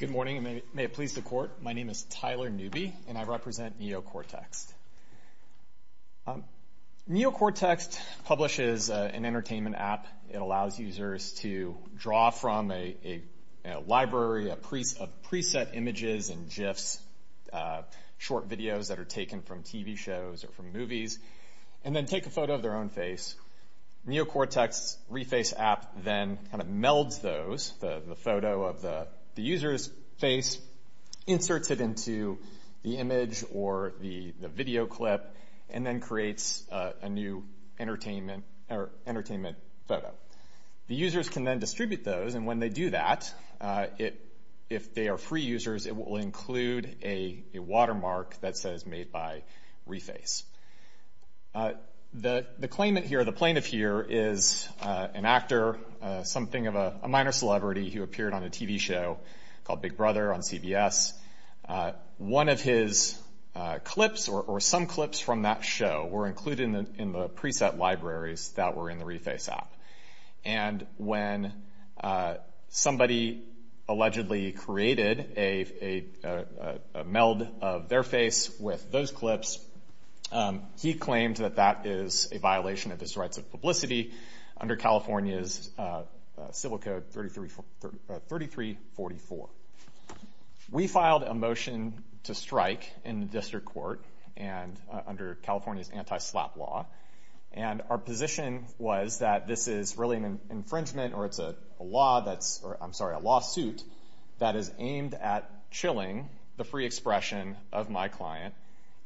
Good morning, and may it please the Court, my name is Tyler Newby, and I represent NeoCortext. NeoCortext publishes an entertainment app. It allows users to draw from a library of preset images and GIFs, short videos that are taken from TV shows or from movies, and then take a photo of the user's face. NeoCortext's Reface app then kind of melds those, the photo of the user's face, inserts it into the image or the video clip, and then creates a new entertainment photo. The users can then distribute those, and when they do that, if they are free users, it will include a watermark that says made by Reface. The claimant here, the plaintiff here, is an actor, something of a minor celebrity who appeared on a TV show called Big Brother on CBS. One of his clips or some clips from that show were included in the preset libraries that were in the Reface app, and when somebody allegedly created a meld of their face with those clips, he claimed that that is a violation of his rights of publicity under California's Civil Code 3344. We filed a motion to strike in the district court and under California's anti-slap law, and our position was that this is really an infringement or it's a law that's, I'm sorry, a lawsuit that is aimed at chilling the free expression of my client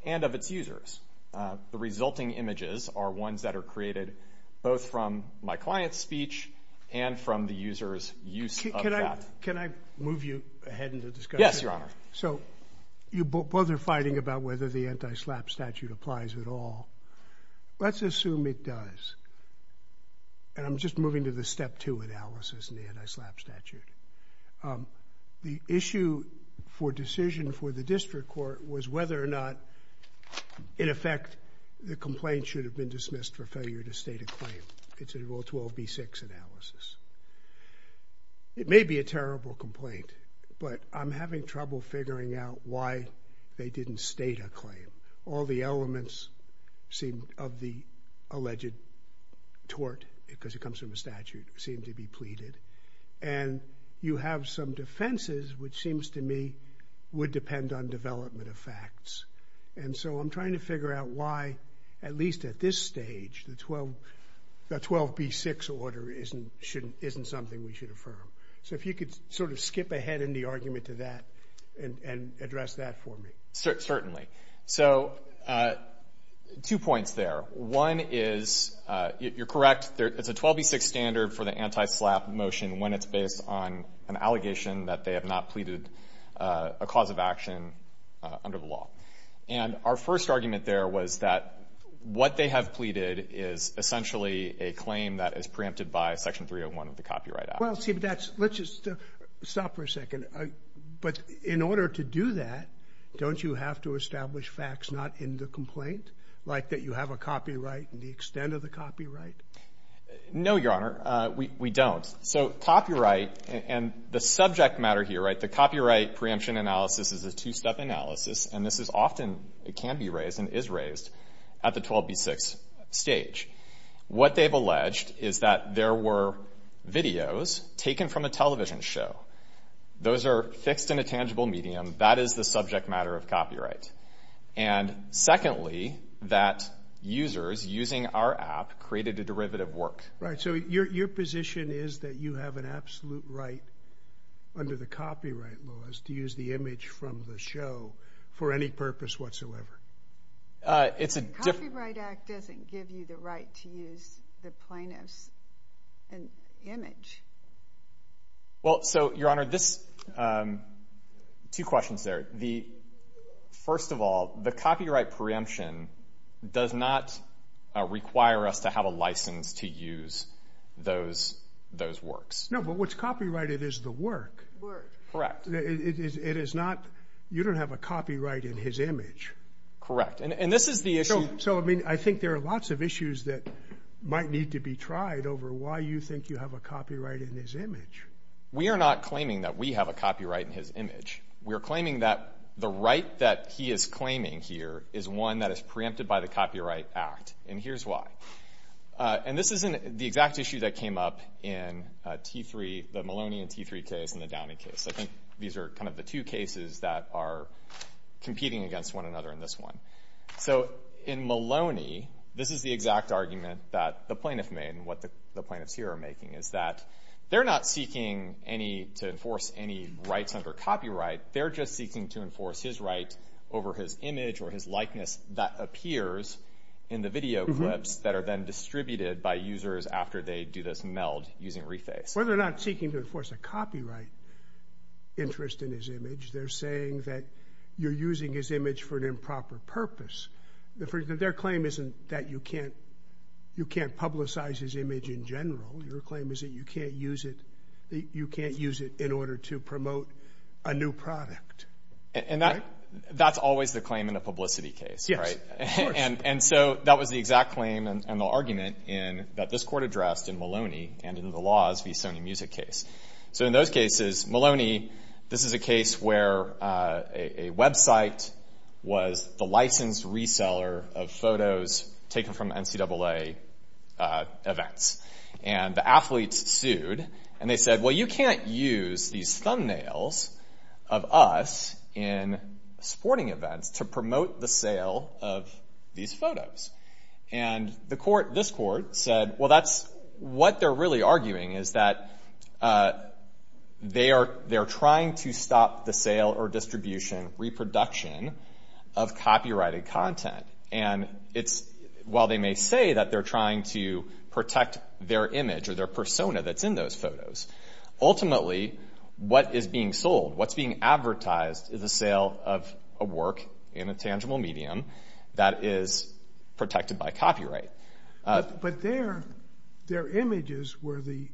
and of its users. The resulting images are ones that are created both from my client's speech and from the user's use. Can I move you ahead in the discussion? Yes, your honor. So, you both are fighting about whether the anti-slap statute applies at all. Let's assume it does, and I'm just moving to the step two analysis in the anti-slap statute. The issue for decision for the district court was whether or not, in effect, the complaint should have been dismissed for failure to state a claim. It's a Rule 12b-6 analysis. It may be a terrible complaint, but I'm having trouble figuring out why they didn't state a claim. All the elements of the alleged tort, because it comes from a statute, seem to be pleaded. And you have some defenses, which seems to me would depend on development of facts. And so I'm trying to figure out why, at least at this stage, the 12b-6 order isn't something we should affirm. So if you could sort of skip ahead in the argument to that and address that for me. Certainly. So, two points there. One is, you're correct, it's a 12b-6 standard for the anti-slap motion when it's based on an allegation that they have not pleaded a cause of action under the law. And our first argument there was that what they have pleaded is essentially a claim that is preempted by Section 301 of the Copyright Act. Well, see, but that's — let's just stop for a second. But in order to do that, don't you have to establish facts not in the complaint, like that you have a copyright and the extent of the copyright? No, Your Honor. We don't. So copyright — and the subject matter here, right, the copyright preemption analysis is a two-step analysis, and this is often — it can be raised and is raised at the 12b-6 stage. What they've alleged is that there were videos taken from a television show. Those are fixed in a tangible medium. That is the subject matter of copyright. And secondly, that users using our app created a derivative work. Right. So your position is that you have an absolute right under the copyright laws to use the image from the show for any purpose whatsoever? It's a — The Copyright Act doesn't give you the right to use the plaintiff's image. Well, so, Your Honor, this — two questions there. The — first of all, the copyright preemption does not require us to have a license to use those works. No, but what's copyrighted is the work. Work. Correct. It is not — you don't have a copyright in his image. Correct. And this is the issue — So, I mean, I think there are lots of issues that might need to be tried over why you think you have a copyright in his image. We are not claiming that we have a copyright in his image. We are claiming that the right that he is claiming here is one that is preempted by the Copyright Act. And here's why. And this isn't the exact issue that came up in T3 — the Maloney and T3 case and the Downing case. I think these are kind of the two cases that are competing against one another in this one. So, in Maloney, this is the exact argument that the plaintiff made and what the plaintiffs here are making, is that they're not seeking any — to enforce any rights under copyright. They're just seeking to enforce his right over his image or his likeness that appears in the video clips that are then distributed by users after they do this meld using reface. Well, they're not seeking to enforce a copyright interest in his image. They're saying that you're using his image for an improper purpose. Their claim isn't that you can't publicize his image in general. Your claim is that you can't use it in order to promote a new product. And that's always the claim in a publicity case, right? Yes, of course. And so that was the exact claim and the argument that this court addressed in Maloney and in the Laws v. Sony Music case. So, in those cases, Maloney — this is a case where a website was the licensed reseller of photos taken from NCAA events. And the athletes sued. And they said, well, you can't use these thumbnails of us in sporting events to promote the sale of these photos. And this court said, well, that's — what they're really arguing is that they're trying to stop the sale or distribution, reproduction of copyrighted content. And while they may say that they're trying to protect their image or their persona that's in those photos, ultimately, what is being sold, what's being advertised is the sale of a work in a tangible medium that is protected by copyright. But their images were the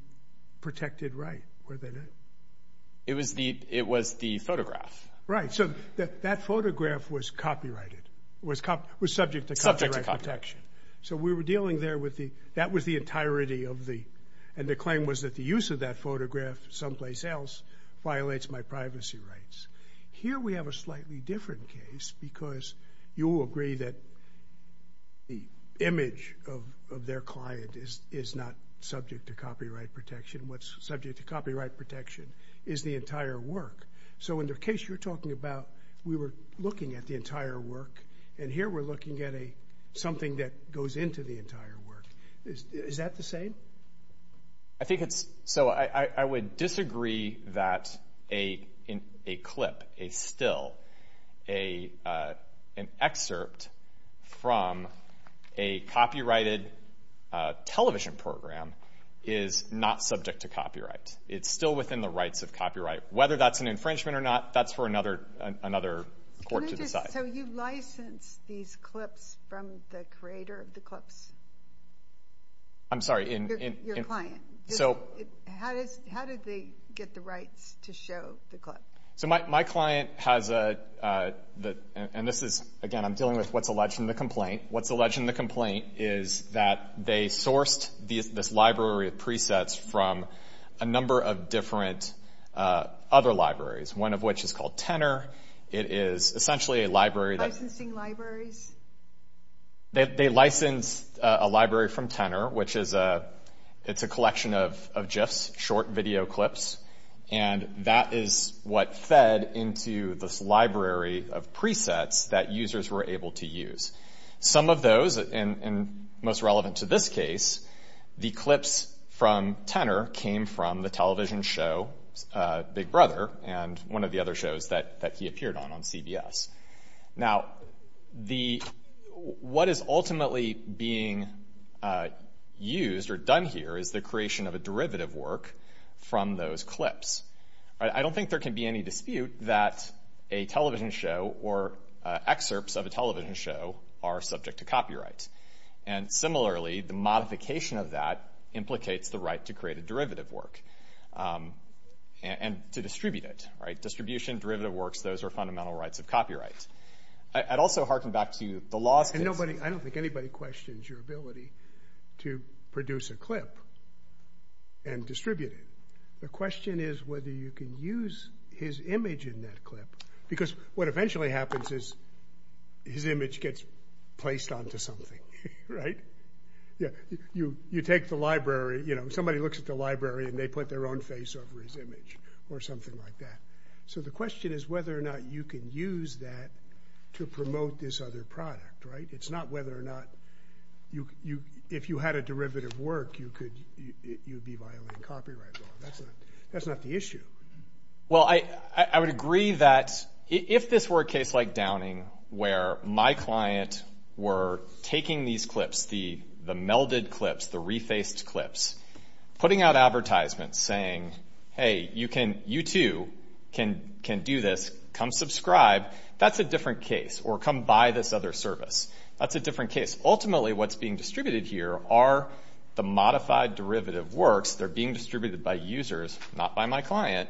protected right, were they not? It was the photograph. Right. So that photograph was copyrighted, was subject to copyright protection. So we were dealing there with the — that was the entirety of the — and the claim was that the use of that photograph someplace else violates my privacy rights. Here we have a slightly different case because you will agree that the image of their client is not subject to copyright protection. What's subject to copyright protection is the entire work. So in the case you're talking about, we were looking at the entire work. And here we're looking at a — something that goes into the entire work. Is that the same? I think it's — so I would disagree that a clip, a still, an excerpt from a copyrighted television program is not subject to copyright. It's still within the rights of copyright. Whether that's an infringement or not, that's for another court to decide. So you licensed these clips from the creator of the clips? I'm sorry, in — Your client. So — How did they get the rights to show the clip? So my client has a — and this is, again, I'm dealing with what's alleged in the complaint. What's alleged in the complaint is that they sourced this library of presets from a number of different other libraries, one of which is called Tenor. It is essentially a library that — Licensing libraries? They licensed a library from Tenor, which is a — it's a collection of GIFs, short video clips. And that is what fed into this library of presets that users were able to use. Some of those, and most relevant to this case, the clips from Tenor came from the television show Big Brother and one of the other shows that he appeared on, on CBS. Now, the — what is ultimately being used or done here is the creation of a derivative work from those clips. I don't think there can be any dispute that a television show or excerpts of a television show are subject to copyright. And similarly, the modification of that implicates the right to create a derivative work and to distribute it, right? Distribution, derivative works, those are fundamental rights of copyright. I'd also harken back to the law — And nobody — I don't think anybody questions your ability to produce a clip and distribute it. The question is whether you can use his image in that clip, because what eventually happens is his image gets placed onto something, right? You take the library, you know, somebody looks at the library and they put their own face over his image or something like that. So the question is whether or not you can use that to promote this other product, right? It's not whether or not you — if you had a derivative work, you could — you'd be violating copyright law. That's not the issue. Well, I would agree that if this were a case like Downing where my client were taking these clips, the melded clips, the refaced clips, putting out advertisements saying, hey, you can — you too can do this, come subscribe, that's a different case. Or come buy this other service. That's a different case. Ultimately, what's being distributed here are the modified derivative works. They're being distributed by users, not by my client.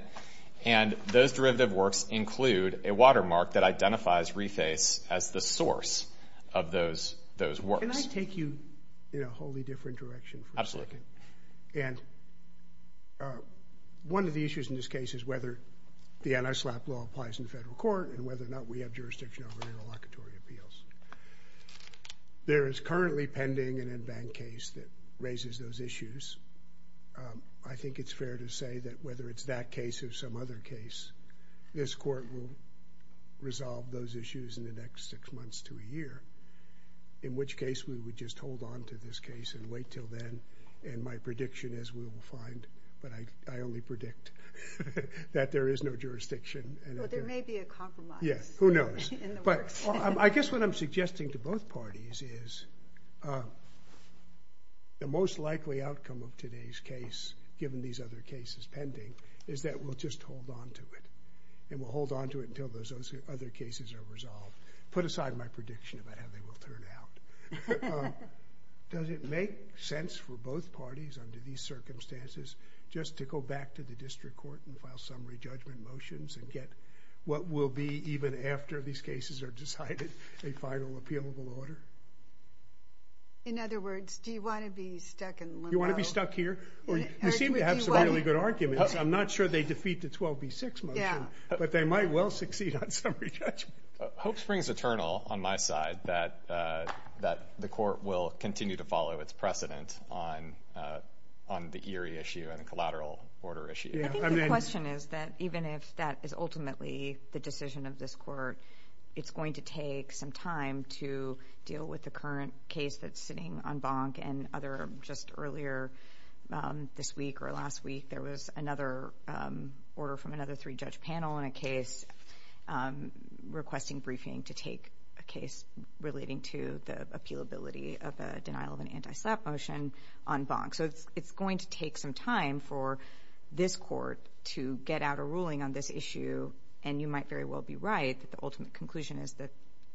And those derivative works include a watermark that identifies reface as the source of those works. Can I take you in a wholly different direction for a second? And one of the issues in this case is whether the anti-SLAPP law applies in federal court and whether or not we have jurisdiction over interlocutory appeals. There is currently pending an in-bank case that raises those issues. I think it's fair to say that whether it's that case or some other case, this court will resolve those issues in the next six months to a year, in which case we would just hold on to this case and wait until then. And my prediction is we will find — but I only predict that there is no jurisdiction. Well, there may be a compromise. Yes, who knows? But I guess what I'm suggesting to both parties is the most likely outcome of today's case, given these other cases pending, is that we'll just hold on to it. And we'll hold on to it until those other cases are resolved. Put aside my prediction about how they will turn out. Does it make sense for both parties under these circumstances just to go back to the district court and file summary judgment motions and get what will be, even after these cases are decided, a final appealable order? In other words, do you want to be stuck in limbo? You want to be stuck here? Well, you seem to have some really good arguments. I'm not sure they defeat the 12B6 motion, but they might well succeed on summary judgment. Hope springs eternal on my side that the court will continue to follow its precedent on the Erie issue and the collateral order issue. I think the question is that even if that is ultimately the decision of this court, it's going to take some time to deal with the current case that's sitting on bonk. And other — just earlier this week or last week, there was another order from another three-judge panel on a case requesting briefing to take a case relating to the appealability of a denial of an anti-SLAPP motion on bonk. So it's going to take some time for this court to get out a ruling on this issue. And you might very well be right that the ultimate conclusion is that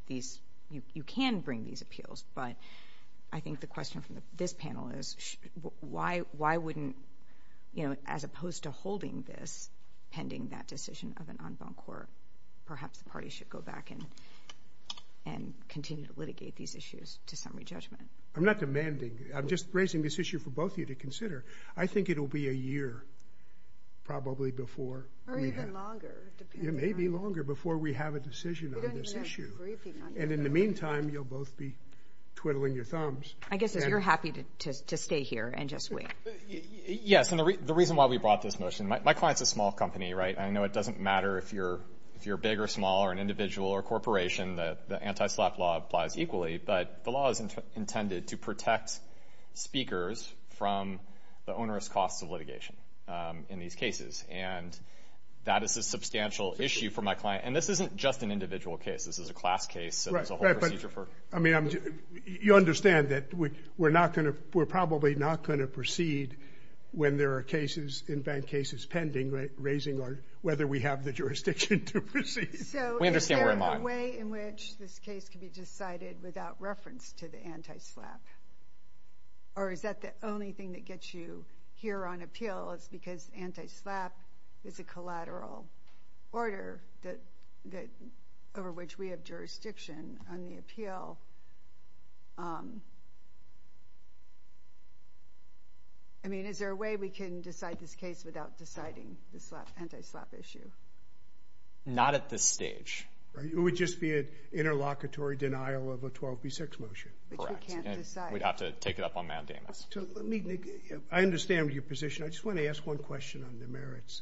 these — you can bring these appeals. But I think the question from this panel is why wouldn't — you know, as opposed to holding this pending that decision of an en banc court, perhaps the party should go back and continue to litigate these issues to summary judgment. I'm not demanding. I'm just raising this issue for both of you to consider. I think it will be a year, probably, before we have — Or even longer, depending on — It may be longer before we have a decision on this issue. We don't even have to brief you on this. And in the meantime, you'll both be twiddling your thumbs. I guess you're happy to stay here and just wait. Yes. And the reason why we brought this motion — My client's a small company, right? And I know it doesn't matter if you're big or small or an individual or a corporation. The anti-SLAPP law applies equally. But the law is intended to protect speakers from the onerous costs of litigation in these cases. And that is a substantial issue for my client. And this isn't just an individual case. This is a class case. So there's a whole procedure for — I mean, you understand that we're not going to — we're probably not going to proceed when there are cases, in-bank cases, pending, raising our — whether we have the jurisdiction to proceed. So is there a way in which this case can be decided without reference to the anti-SLAPP? Or is that the only thing that gets you here on appeal? It's because anti-SLAPP is a collateral order that — over which we have jurisdiction on the appeal. I mean, is there a way we can decide this case without deciding the anti-SLAPP issue? Not at this stage. It would just be an interlocutory denial of a 12B6 motion. Correct. Which we can't decide. We'd have to take it up on mandamus. So let me — I understand your position. I just want to ask one question on the merits.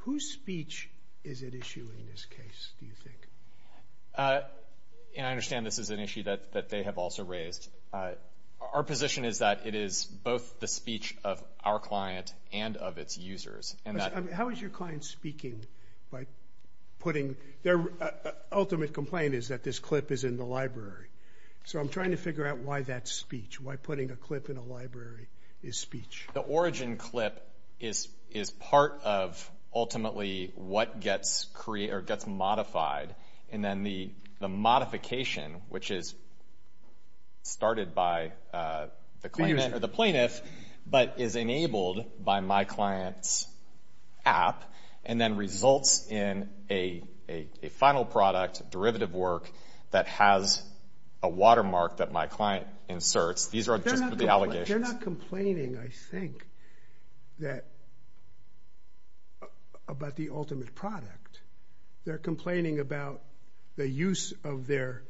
Whose speech is at issue in this case, do you think? And I understand this is an issue that they have also raised. Our position is that it is both the speech of our client and of its users. And that — How is your client speaking by putting — their ultimate complaint is that this clip is in the library. So I'm trying to figure out why that speech, why putting a clip in a library is speech. The origin clip is part of, ultimately, what gets created — or gets modified. And then the modification, which is started by the plaintiff, but is enabled by my client's app, and then results in a final product, derivative work, that has a watermark that my client inserts. These are just the allegations. They're not complaining, I think, that — about the ultimate product. They're complaining about the use of their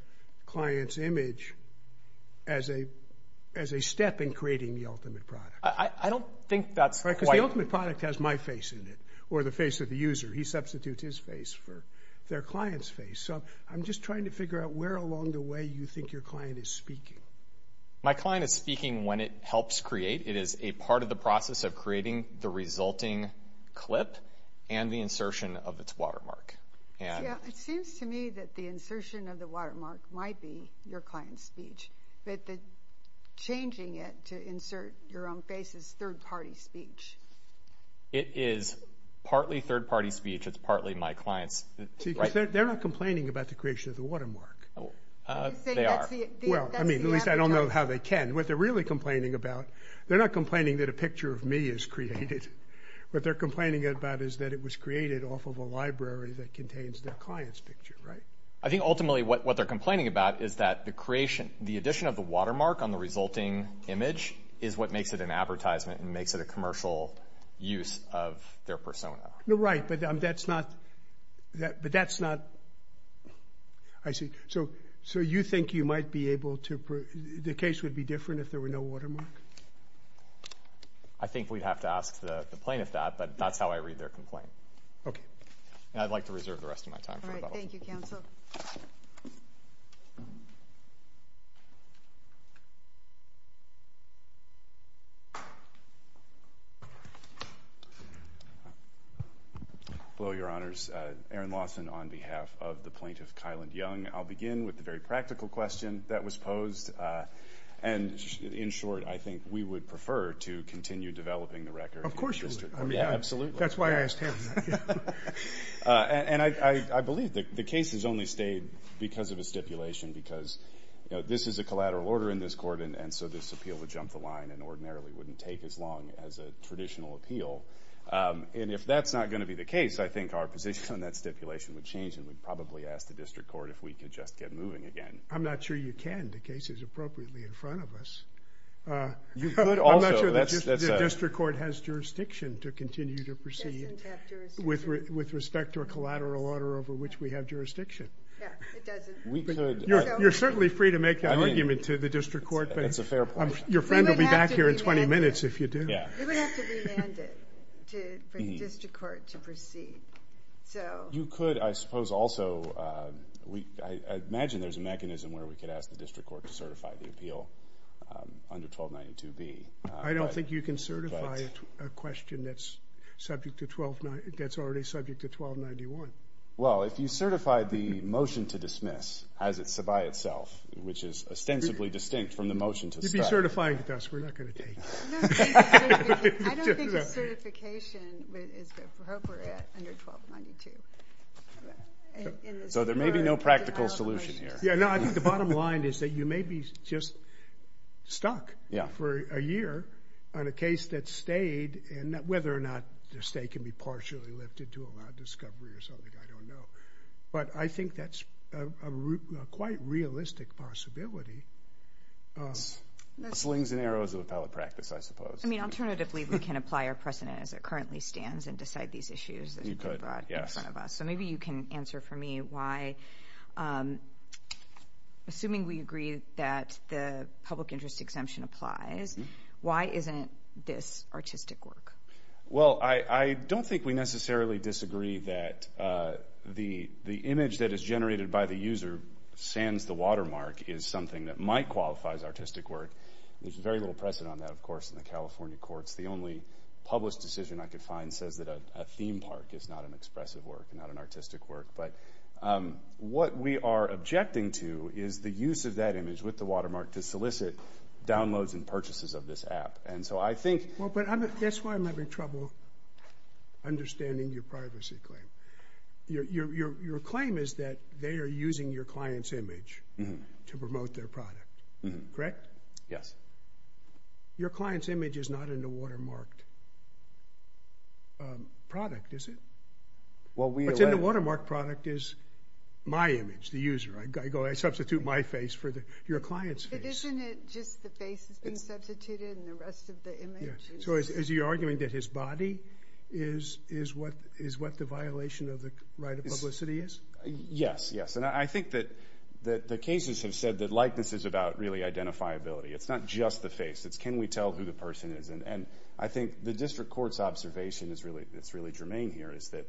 client's image as a step in creating the ultimate product. I don't think that's quite — Because the ultimate product has my face in it, or the face of the user. He substitutes his face for their client's face. So I'm just trying to figure out where along the way you think your client is speaking. My client is speaking when it helps create. It is a part of the process of creating the resulting clip and the insertion of its watermark. Yeah, it seems to me that the insertion of the watermark might be your client's speech. But the changing it to insert your own face is third-party speech. It is partly third-party speech. It's partly my client's — See, because they're not complaining about the creation of the watermark. They are. Well, I mean, at least I don't know how they can. What they're really complaining about — they're not complaining that a picture of me is created. What they're complaining about is that it was created off of a library that contains their client's picture, right? I think ultimately what they're complaining about is that the creation — the addition of the watermark on the resulting image is what makes it an advertisement and makes it a commercial use of their persona. Right, but that's not — But that's not — I see. So you think you might be able to — the case would be different if there were no watermark? I think we'd have to ask the plaintiff that, but that's how I read their complaint. Okay. And I'd like to reserve the rest of my time for rebuttal. All right. Thank you, counsel. Hello, Your Honors. Aaron Lawson on behalf of the plaintiff, Kylan Young. I'll begin with the very practical question that was posed. And in short, I think we would prefer to continue developing the record. Of course you would. Absolutely. That's why I asked him. And I believe that the case has only stayed because of a stipulation, because this is a collateral order in this court, and so this appeal would jump the line and ordinarily wouldn't take as long as a traditional appeal. And if that's not going to be the case, I think our position on that stipulation would change and we'd probably ask the district court if we could just get moving again. I'm not sure you can. The case is appropriately in front of us. I'm not sure the district court has jurisdiction to continue to proceed. With respect to a collateral order over which we have jurisdiction. Yeah, it doesn't. We could. You're certainly free to make that argument to the district court. That's a fair point. Your friend will be back here in 20 minutes if you do. You would have to remand it for the district court to proceed, so. You could, I suppose also, I imagine there's a mechanism where we could ask the district court to certify the appeal under 1292B. I don't think you can certify a question that's already subject to 1291. Well, if you certify the motion to dismiss as it's by itself, which is ostensibly distinct from the motion to start. You'd be certifying with us. We're not going to take it. I don't think the certification is appropriate under 1292. So there may be no practical solution here. Yeah, no, I think the bottom line is that you may be just stuck for a year on a case that stayed, and whether or not the state can be partially lifted to allow discovery or something, I don't know. But I think that's a quite realistic possibility. Slings and arrows of appellate practice, I suppose. I mean, alternatively, we can apply our precedent as it currently stands and decide these issues that you brought in front of us. So maybe you can answer for me why. Assuming we agree that the public interest exemption applies, why isn't this artistic work? Well, I don't think we necessarily disagree that the image that is generated by the user sands the watermark is something that might qualify as artistic work. There's very little precedent on that, of course, in the California courts. The only published decision I could find says that a theme park is not an expressive work, not an artistic work. But what we are objecting to is the use of that image with the watermark to solicit downloads and purchases of this app. And so I think... Well, but that's why I'm having trouble understanding your privacy claim. Your claim is that they are using your client's image to promote their product. Correct? Yes. Your client's image is not in the watermarked product, is it? What's in the watermarked product is my image, the user. I substitute my face for your client's face. But isn't it just the face that's been substituted and the rest of the image? So you're arguing that his body is what the violation of the right of publicity is? Yes, yes. And I think that the cases have said that likeness is about really identifiability. It's not just the face. It's can we tell who the person is? And I think the district court's observation that's really germane here is that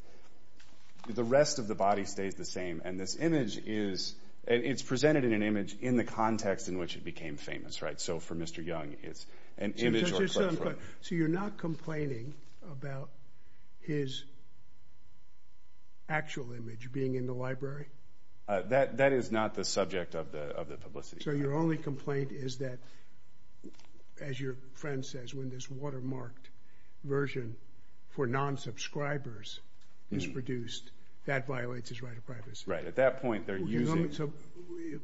the rest of the body stays the same and this image is... It's presented in an image in the context in which it became famous, right? So for Mr. Young, it's an image or... So you're not complaining about his actual image being in the library? That is not the subject of the publicity. So your only complaint is that, as your friend says, when this watermarked version for non-subscribers is produced, that violates his right of privacy? Right. At that point, they're using... So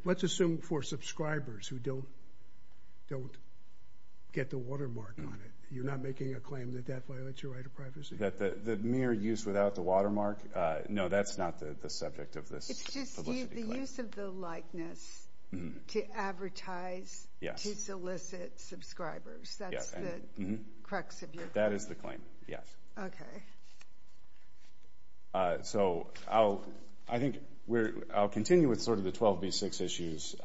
let's assume for subscribers who don't get the watermark on it. You're not making a claim that that violates your right of privacy? That the mere use without the watermark? No, that's not the subject of this publicity claim. It's just the use of the likeness to advertise, to solicit subscribers. That's the crux of your claim? That is the claim, yes. Okay. So I think I'll continue with sort of the 12B6 issues.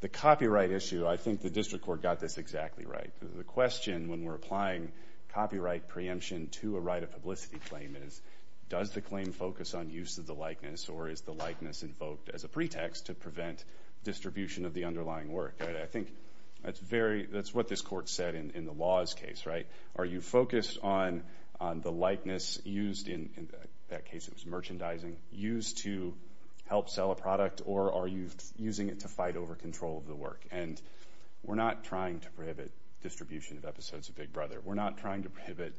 The copyright issue, I think the district court got this exactly right. The question when we're applying copyright preemption to a right of publicity claim is, does the claim focus on use of the likeness or is the likeness invoked as a pretext to prevent distribution of the underlying work? I think that's what this court said in the Laws case, right? Are you focused on the likeness used in that case, it was merchandising, used to help sell a product or are you using it to fight over control of the work? And we're not trying to prohibit distribution of episodes of Big Brother. We're not trying to prohibit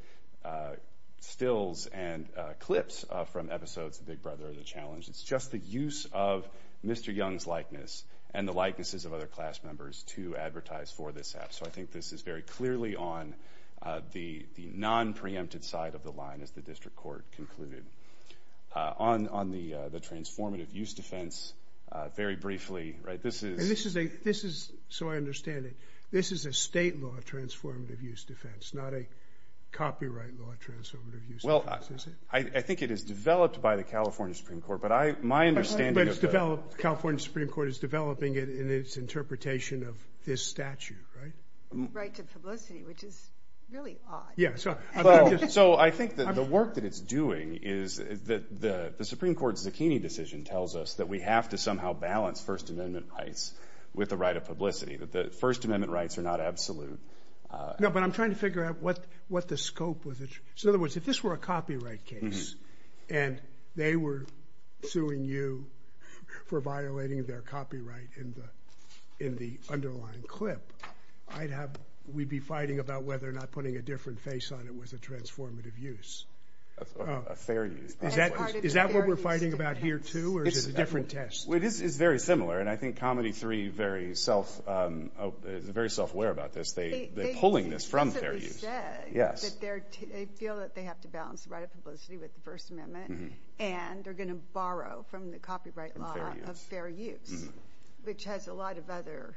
stills and clips from episodes of Big Brother or The Challenge. It's just the use of Mr. Young's likeness and the likenesses of other class members to advertise for this app. So I think this is very clearly on the non-preemptive side of the line as the district court concluded. On the transformative use defense, very briefly, right, this is... And this is a, this is, so I understand it, this is a state law transformative use defense, not a copyright law transformative use defense, is it? I think it is developed by the California Supreme Court, but I, my understanding of the... But it's developed, California Supreme Court is developing it in its interpretation of this statute, right? Right to publicity, which is really odd. Yeah, so I think that the work that it's doing is that the Supreme Court's Zucchini decision tells us that we have to somehow balance First Amendment rights with the right of publicity, that the First Amendment rights are not absolute. No, but I'm trying to figure out what, what the scope was. So in other words, if this were a copyright case, and they were suing you for violating their copyright in the, in the underlying clip, I'd have, we'd be fighting about whether or not putting a different face on it was a transformative use. That's a fair use. Is that, is that what we're fighting about here too, or is it a different test? Well, it is, it's very similar, and I think Comedy 3 very self, is very self-aware about this. They, they're pulling this from fair use. Yes. They feel that they have to balance the right of publicity with the First Amendment, and they're going to borrow from the copyright law of fair use, which has a lot of other...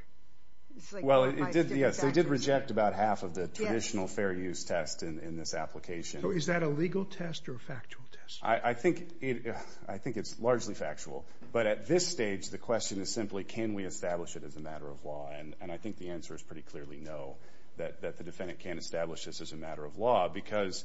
Well, it did, yes, they did reject about half of the traditional fair use test in, in this application. So is that a legal test or a factual test? I, I think it, I think it's largely factual, but at this stage, the question is simply, can we establish it as a matter of law? And, and I think the answer is pretty clearly no, that, that the defendant can't establish this as a matter of law because,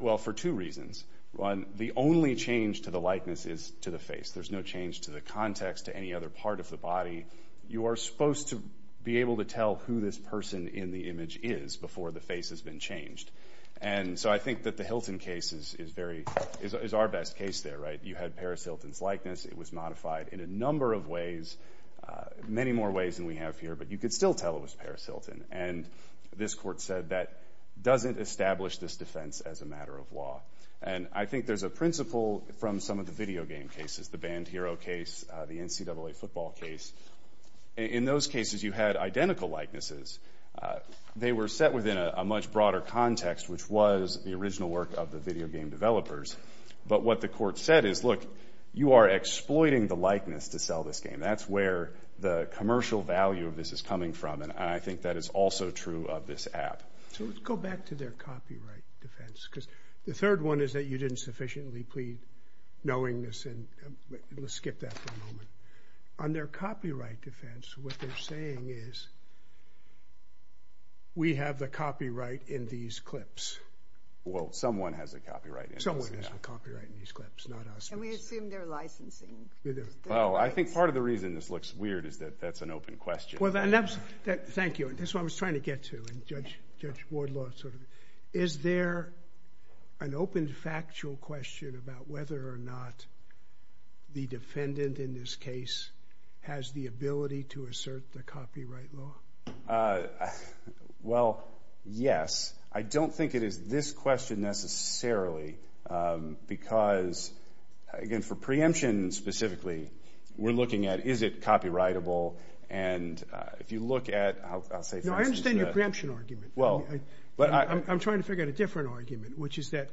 well, for two reasons. One, the only change to the likeness is to the face. There's no change to the context, to any other part of the body. You are supposed to be able to tell who this person in the image is before the face has been changed. And so I think that the Hilton case is, is very, is, is our best case there, right? You had Paris Hilton's likeness. It was modified in a number of ways, many more ways than we have here, but you could still tell it was Paris Hilton. And this court said that doesn't establish this defense as a matter of law. And I think there's a principle from some of the video game cases, the Band Hero case, the NCAA football case. In those cases, you had identical likenesses. They were set within a, a much broader context, which was the original work of the video game developers. But what the court said is, look, you are exploiting the likeness to sell this game. That's where the commercial value of this is coming from. And I think that is also true of this app. So let's go back to their copyright defense, because the third one is that you didn't sufficiently plead knowingness. And let's skip that for a moment. On their copyright defense, what they're saying is, we have the copyright in these clips. Well, someone has a copyright. Someone has a copyright in these clips, not us. And we assume they're licensing. Well, I think part of the reason this looks weird is that that's an open question. Well, and that's, thank you. That's what I was trying to get to, and Judge, Judge Wardlaw sort of, is there an open factual question about whether or not the defendant in this case has the ability to assert the copyright law? Well, yes. I don't think it is this question necessarily, because, again, for preemption specifically, we're looking at, is it copyrightable? And if you look at, I'll say for instance. No, I understand your preemption argument. Well. But I'm trying to figure out a different argument, which is that,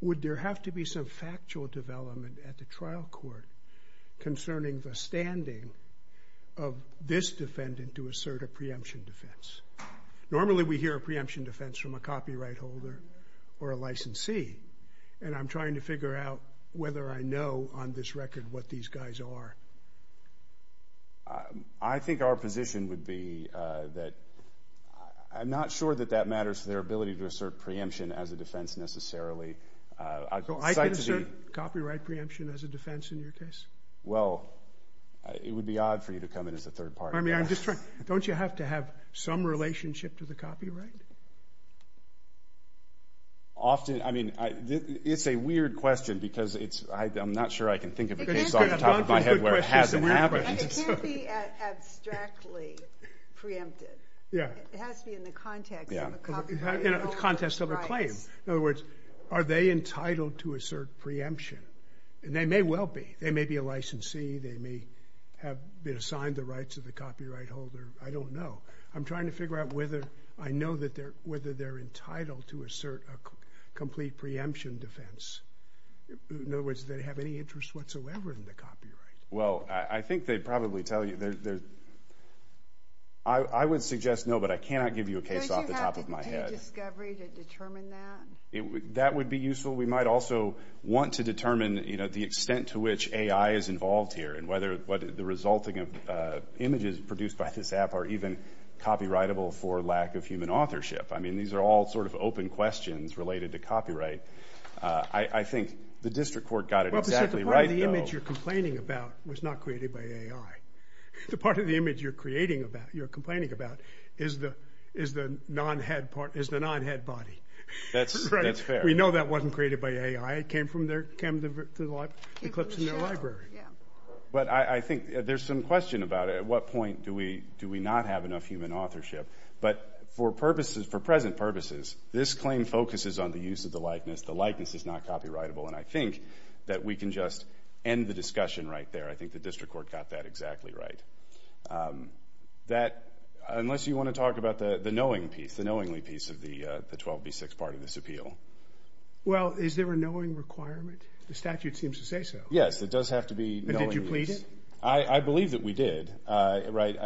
would there have to be some factual development at the trial court concerning the standing of this defendant to assert a preemption defense? Normally, we hear a preemption defense from a copyright holder or a licensee. And I'm trying to figure out whether I know on this record what these guys are. I think our position would be that, I'm not sure that that matters to their ability to assert preemption as a defense necessarily. I can assert copyright preemption as a defense in your case. Well, it would be odd for you to come in as a third party. I mean, I'm just trying, don't you have to have some relationship to the copyright? Often, I mean, it's a weird question because it's, I'm not sure I can think of a case off the top of my head where it hasn't happened. It can't be abstractly preempted. Yeah. It has to be in the context of a copyright. In the context of a claim. In other words, are they entitled to assert preemption? And they may well be. They may be a licensee. They may have been assigned the rights of the copyright holder. I don't know. I'm trying to figure out whether I know that they're, whether they're entitled to assert a complete preemption defense. In other words, do they have any interest whatsoever in the copyright? Well, I think they'd probably tell you. I would suggest no, but I cannot give you a case off the top of my head. Would you have any discovery to determine that? That would be useful. We might also want to determine, you know, the extent to which AI is involved here and whether the resulting images produced by this app are even copyrightable for lack of human authorship. I mean, these are all sort of open questions related to copyright. I think the district court got it exactly right, though. The part of the image you're complaining about was not created by AI. The part of the image you're creating about, you're complaining about, is the non-head part, is the non-head body. That's fair. We know that wasn't created by AI. It came from the clips in their library. But I think there's some question about at what point do we not have enough human authorship. But for present purposes, this claim focuses on the use of the likeness. The likeness is not copyrightable. And I think that we can just end the discussion right there. I think the district court got that exactly right. That, unless you want to talk about the knowing piece, the knowingly piece of the 12b6 part of this appeal. Well, is there a knowing requirement? The statute seems to say so. Yes, it does have to be knowingly. And did you plead it? I believe that we did, right.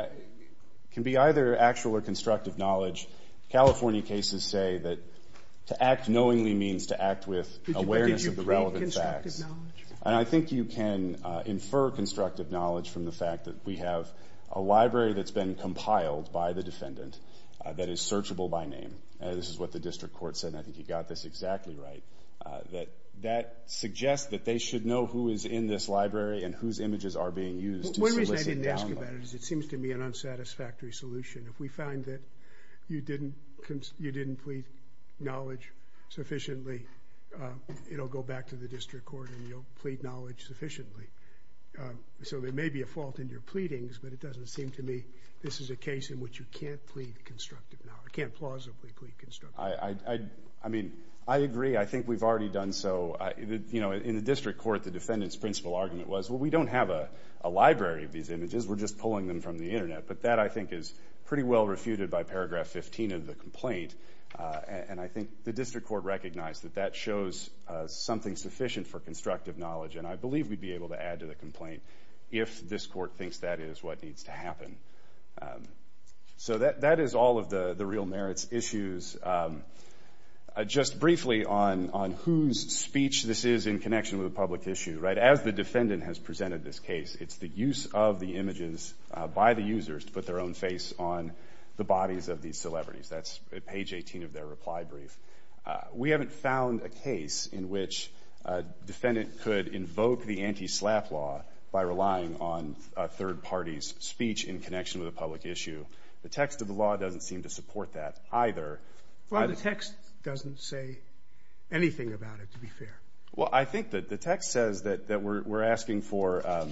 Can be either actual or constructive knowledge. California cases say that to act knowingly means to act with awareness of the relevant facts. And I think you can infer constructive knowledge from the fact that we have a library that's been compiled by the defendant that is searchable by name. This is what the district court said. And I think you got this exactly right. That that suggests that they should know who is in this library and whose images are being used to solicit download. One reason I didn't ask about it is it seems to me an unsatisfactory solution. If we find that you didn't plead knowledge sufficiently, it'll go back to the district court and you'll plead knowledge sufficiently. So there may be a fault in your pleadings, but it doesn't seem to me this is a case in which you can't plead constructive knowledge. I can't plausibly plead constructive knowledge. I mean, I agree. I think we've already done so. You know, in the district court, the defendant's principle argument was, well, we don't have a library of these images. We're just pulling them from the internet. But that, I think, is pretty well refuted by paragraph 15 of the complaint. And I think the district court recognized that that shows something sufficient for constructive knowledge, and I believe we'd be able to add to the complaint if this court thinks that is what needs to happen. So that is all of the real merits issues. Just briefly on whose speech this is in connection with a public issue, right? As the defendant has presented this case, it's the use of the images by the users to put their own face on the bodies of these celebrities. That's page 18 of their reply brief. We haven't found a case in which a defendant could invoke the anti-SLAPP law by relying on a third party's speech in connection with a public issue. The text of the law doesn't seem to support that either. Well, the text doesn't say anything about it, to be fair. Well, I think that the text says that we're asking for,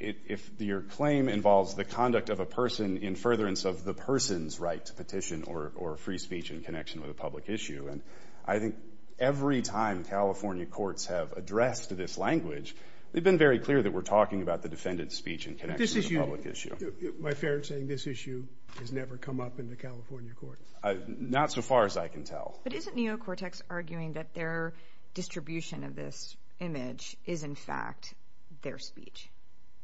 if your claim involves the conduct of a person in furtherance of the person's right to petition or free speech in connection with a public issue, and I think every time California courts have addressed this language, they've been very clear that we're talking about the defendant's speech in connection with a public issue. My fair saying, this issue has never come up in the California court. Not so far as I can tell. But isn't Neocortex arguing that their distribution of this image is, in fact, their speech?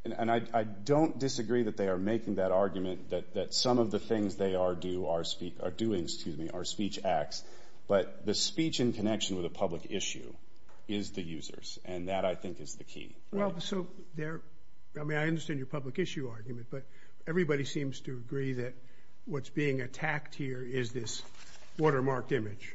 And I don't disagree that they are making that argument that some of the things they are doing are speech acts, but the speech in connection with a public issue is the user's, and that, I think, is the key. Well, so there, I mean, I understand your public issue argument, but everybody seems to agree that what's being attacked here is this watermarked image,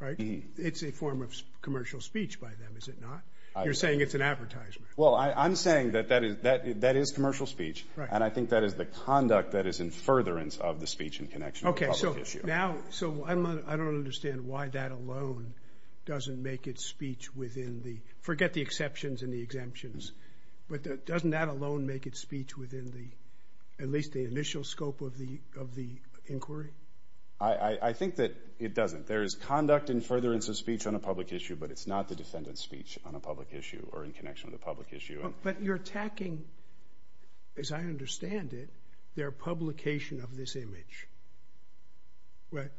right? It's a form of commercial speech by them, is it not? You're saying it's an advertisement. Well, I'm saying that that is commercial speech, and I think that is the conduct that is in furtherance of the speech in connection with a public issue. Now, so I don't understand why that alone doesn't make it speech within the, forget the exceptions and the exemptions, but doesn't that alone make it speech within the, at least the initial scope of the inquiry? I think that it doesn't. There is conduct in furtherance of speech on a public issue, but it's not the defendant's speech on a public issue or in connection with a public issue. But you're attacking, as I understand it, their publication of this image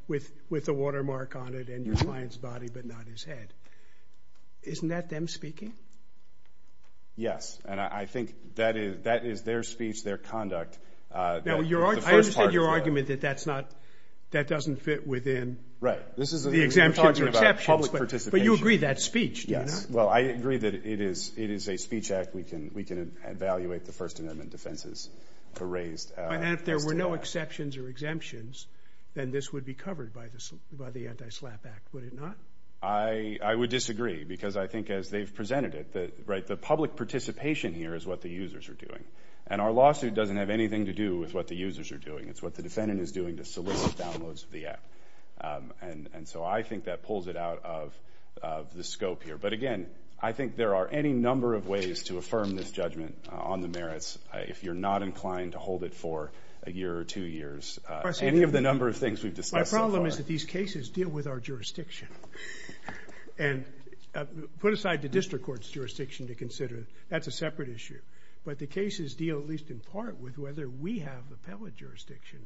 with a watermark on it and your client's body, but not his head. Isn't that them speaking? Yes, and I think that is their speech, their conduct. Now, I understand your argument that that's not, that doesn't fit within the exemptions and exceptions, but you agree that's speech, do you not? Well, I agree that it is a speech act. We can evaluate the First Amendment defenses for raised. And if there were no exceptions or exemptions, then this would be covered by the Anti-SLAPP Act, would it not? I would disagree, because I think as they've presented it, right, the public participation here is what the users are doing. And our lawsuit doesn't have anything to do with what the users are doing. It's what the defendant is doing to solicit downloads of the app. And so I think that pulls it out of the scope here. But again, I think there are any number of ways to affirm this judgment on the merits if you're not inclined to hold it for a year or two years, any of the number of things we've discussed so far. My problem is that these cases deal with our jurisdiction. And put aside the district court's jurisdiction to consider, that's a separate issue. But the cases deal at least in part with whether we have appellate jurisdiction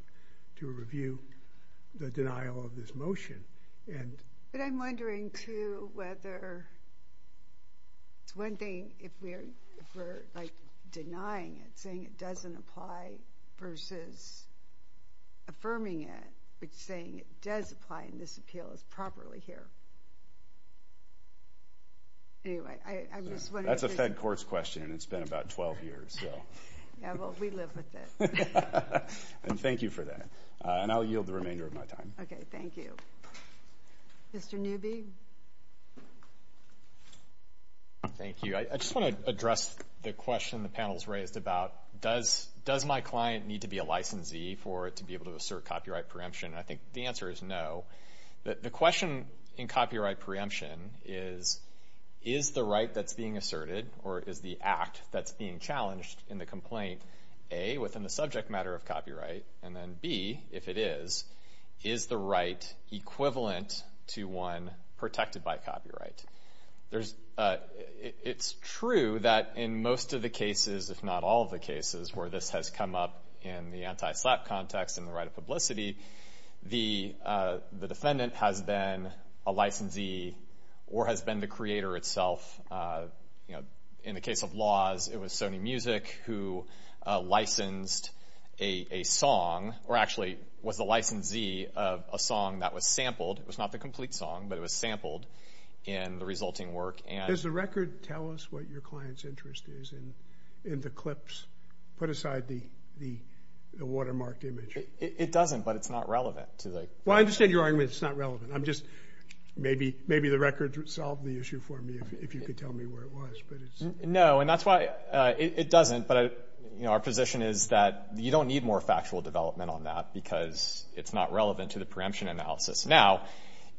to review the denial of this motion. But I'm wondering, too, whether it's one thing if we're, like, denying it, saying it doesn't apply, versus affirming it, but saying it does apply and this appeal is properly here. Anyway, I'm just wondering. That's a Fed court's question, and it's been about 12 years, so. Yeah, well, we live with it. And thank you for that. And I'll yield the remainder of my time. Okay, thank you. Mr. Newby? Thank you. I just want to address the question the panel's raised about, does my client need to be a licensee for it to be able to assert copyright preemption? And I think the answer is no. The question in copyright preemption is, is the right that's being asserted, or is the act that's being challenged in the complaint, A, within the subject matter of copyright, and then B, if it is, is the right equivalent to one protected by copyright? There's, it's true that in most of the cases, if not all of the cases, where this has come up in the anti-SLAPP context and the right of publicity, the defendant has been a licensee or has been the creator itself, you know, in the case of laws, it was Sony Music who licensed a song, or actually was the licensee of a song that was sampled. It was not the complete song, but it was sampled in the resulting work. And... Does the record tell us what your client's interest is in the clips? Put aside the watermarked image. It doesn't, but it's not relevant to the... Well, I understand your argument it's not relevant. I'm just, maybe the record would solve the issue for me if you could tell me where it was, but it's... No, and that's why, it doesn't, but, you know, our position is that you don't need more factual development on that because it's not relevant to the preemption analysis. Now,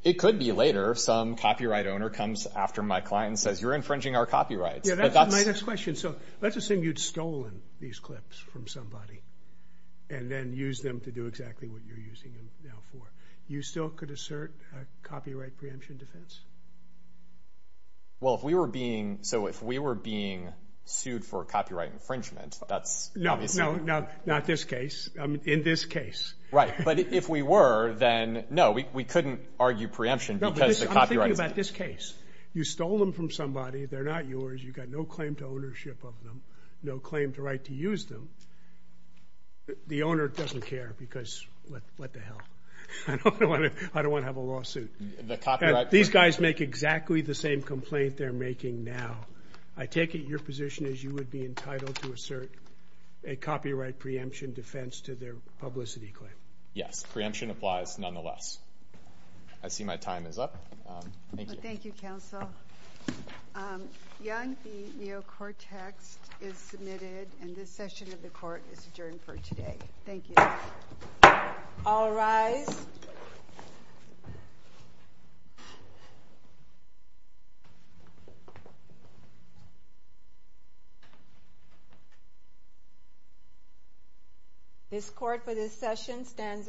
it could be later some copyright owner comes after my client and says you're infringing our copyrights. Yeah, that's my next question. So, let's assume you'd stolen these clips from somebody and then used them to do exactly what you're using them now for. You still could assert a copyright preemption defense? Well, if we were being, so if we were being sued for copyright infringement, that's... No, no, no, not this case, I mean, in this case. Right, but if we were, then no, we couldn't argue preemption because the copyrights... No, but this, I'm thinking about this case. You stole them from somebody, they're not yours, you've got no claim to ownership of them, no claim to right to use them, the owner doesn't care because what the hell? I don't want to, I don't want to have a lawsuit. The copyright... These guys make exactly the same complaint they're making now. I take it your position is you would be entitled to assert a copyright preemption defense to their publicity claim. Yes, preemption applies nonetheless. I see my time is up, thank you. Thank you, counsel. Young v. Neocortex is submitted and this session of the court is adjourned for today. Thank you. All rise. This court for this session stands adjourned.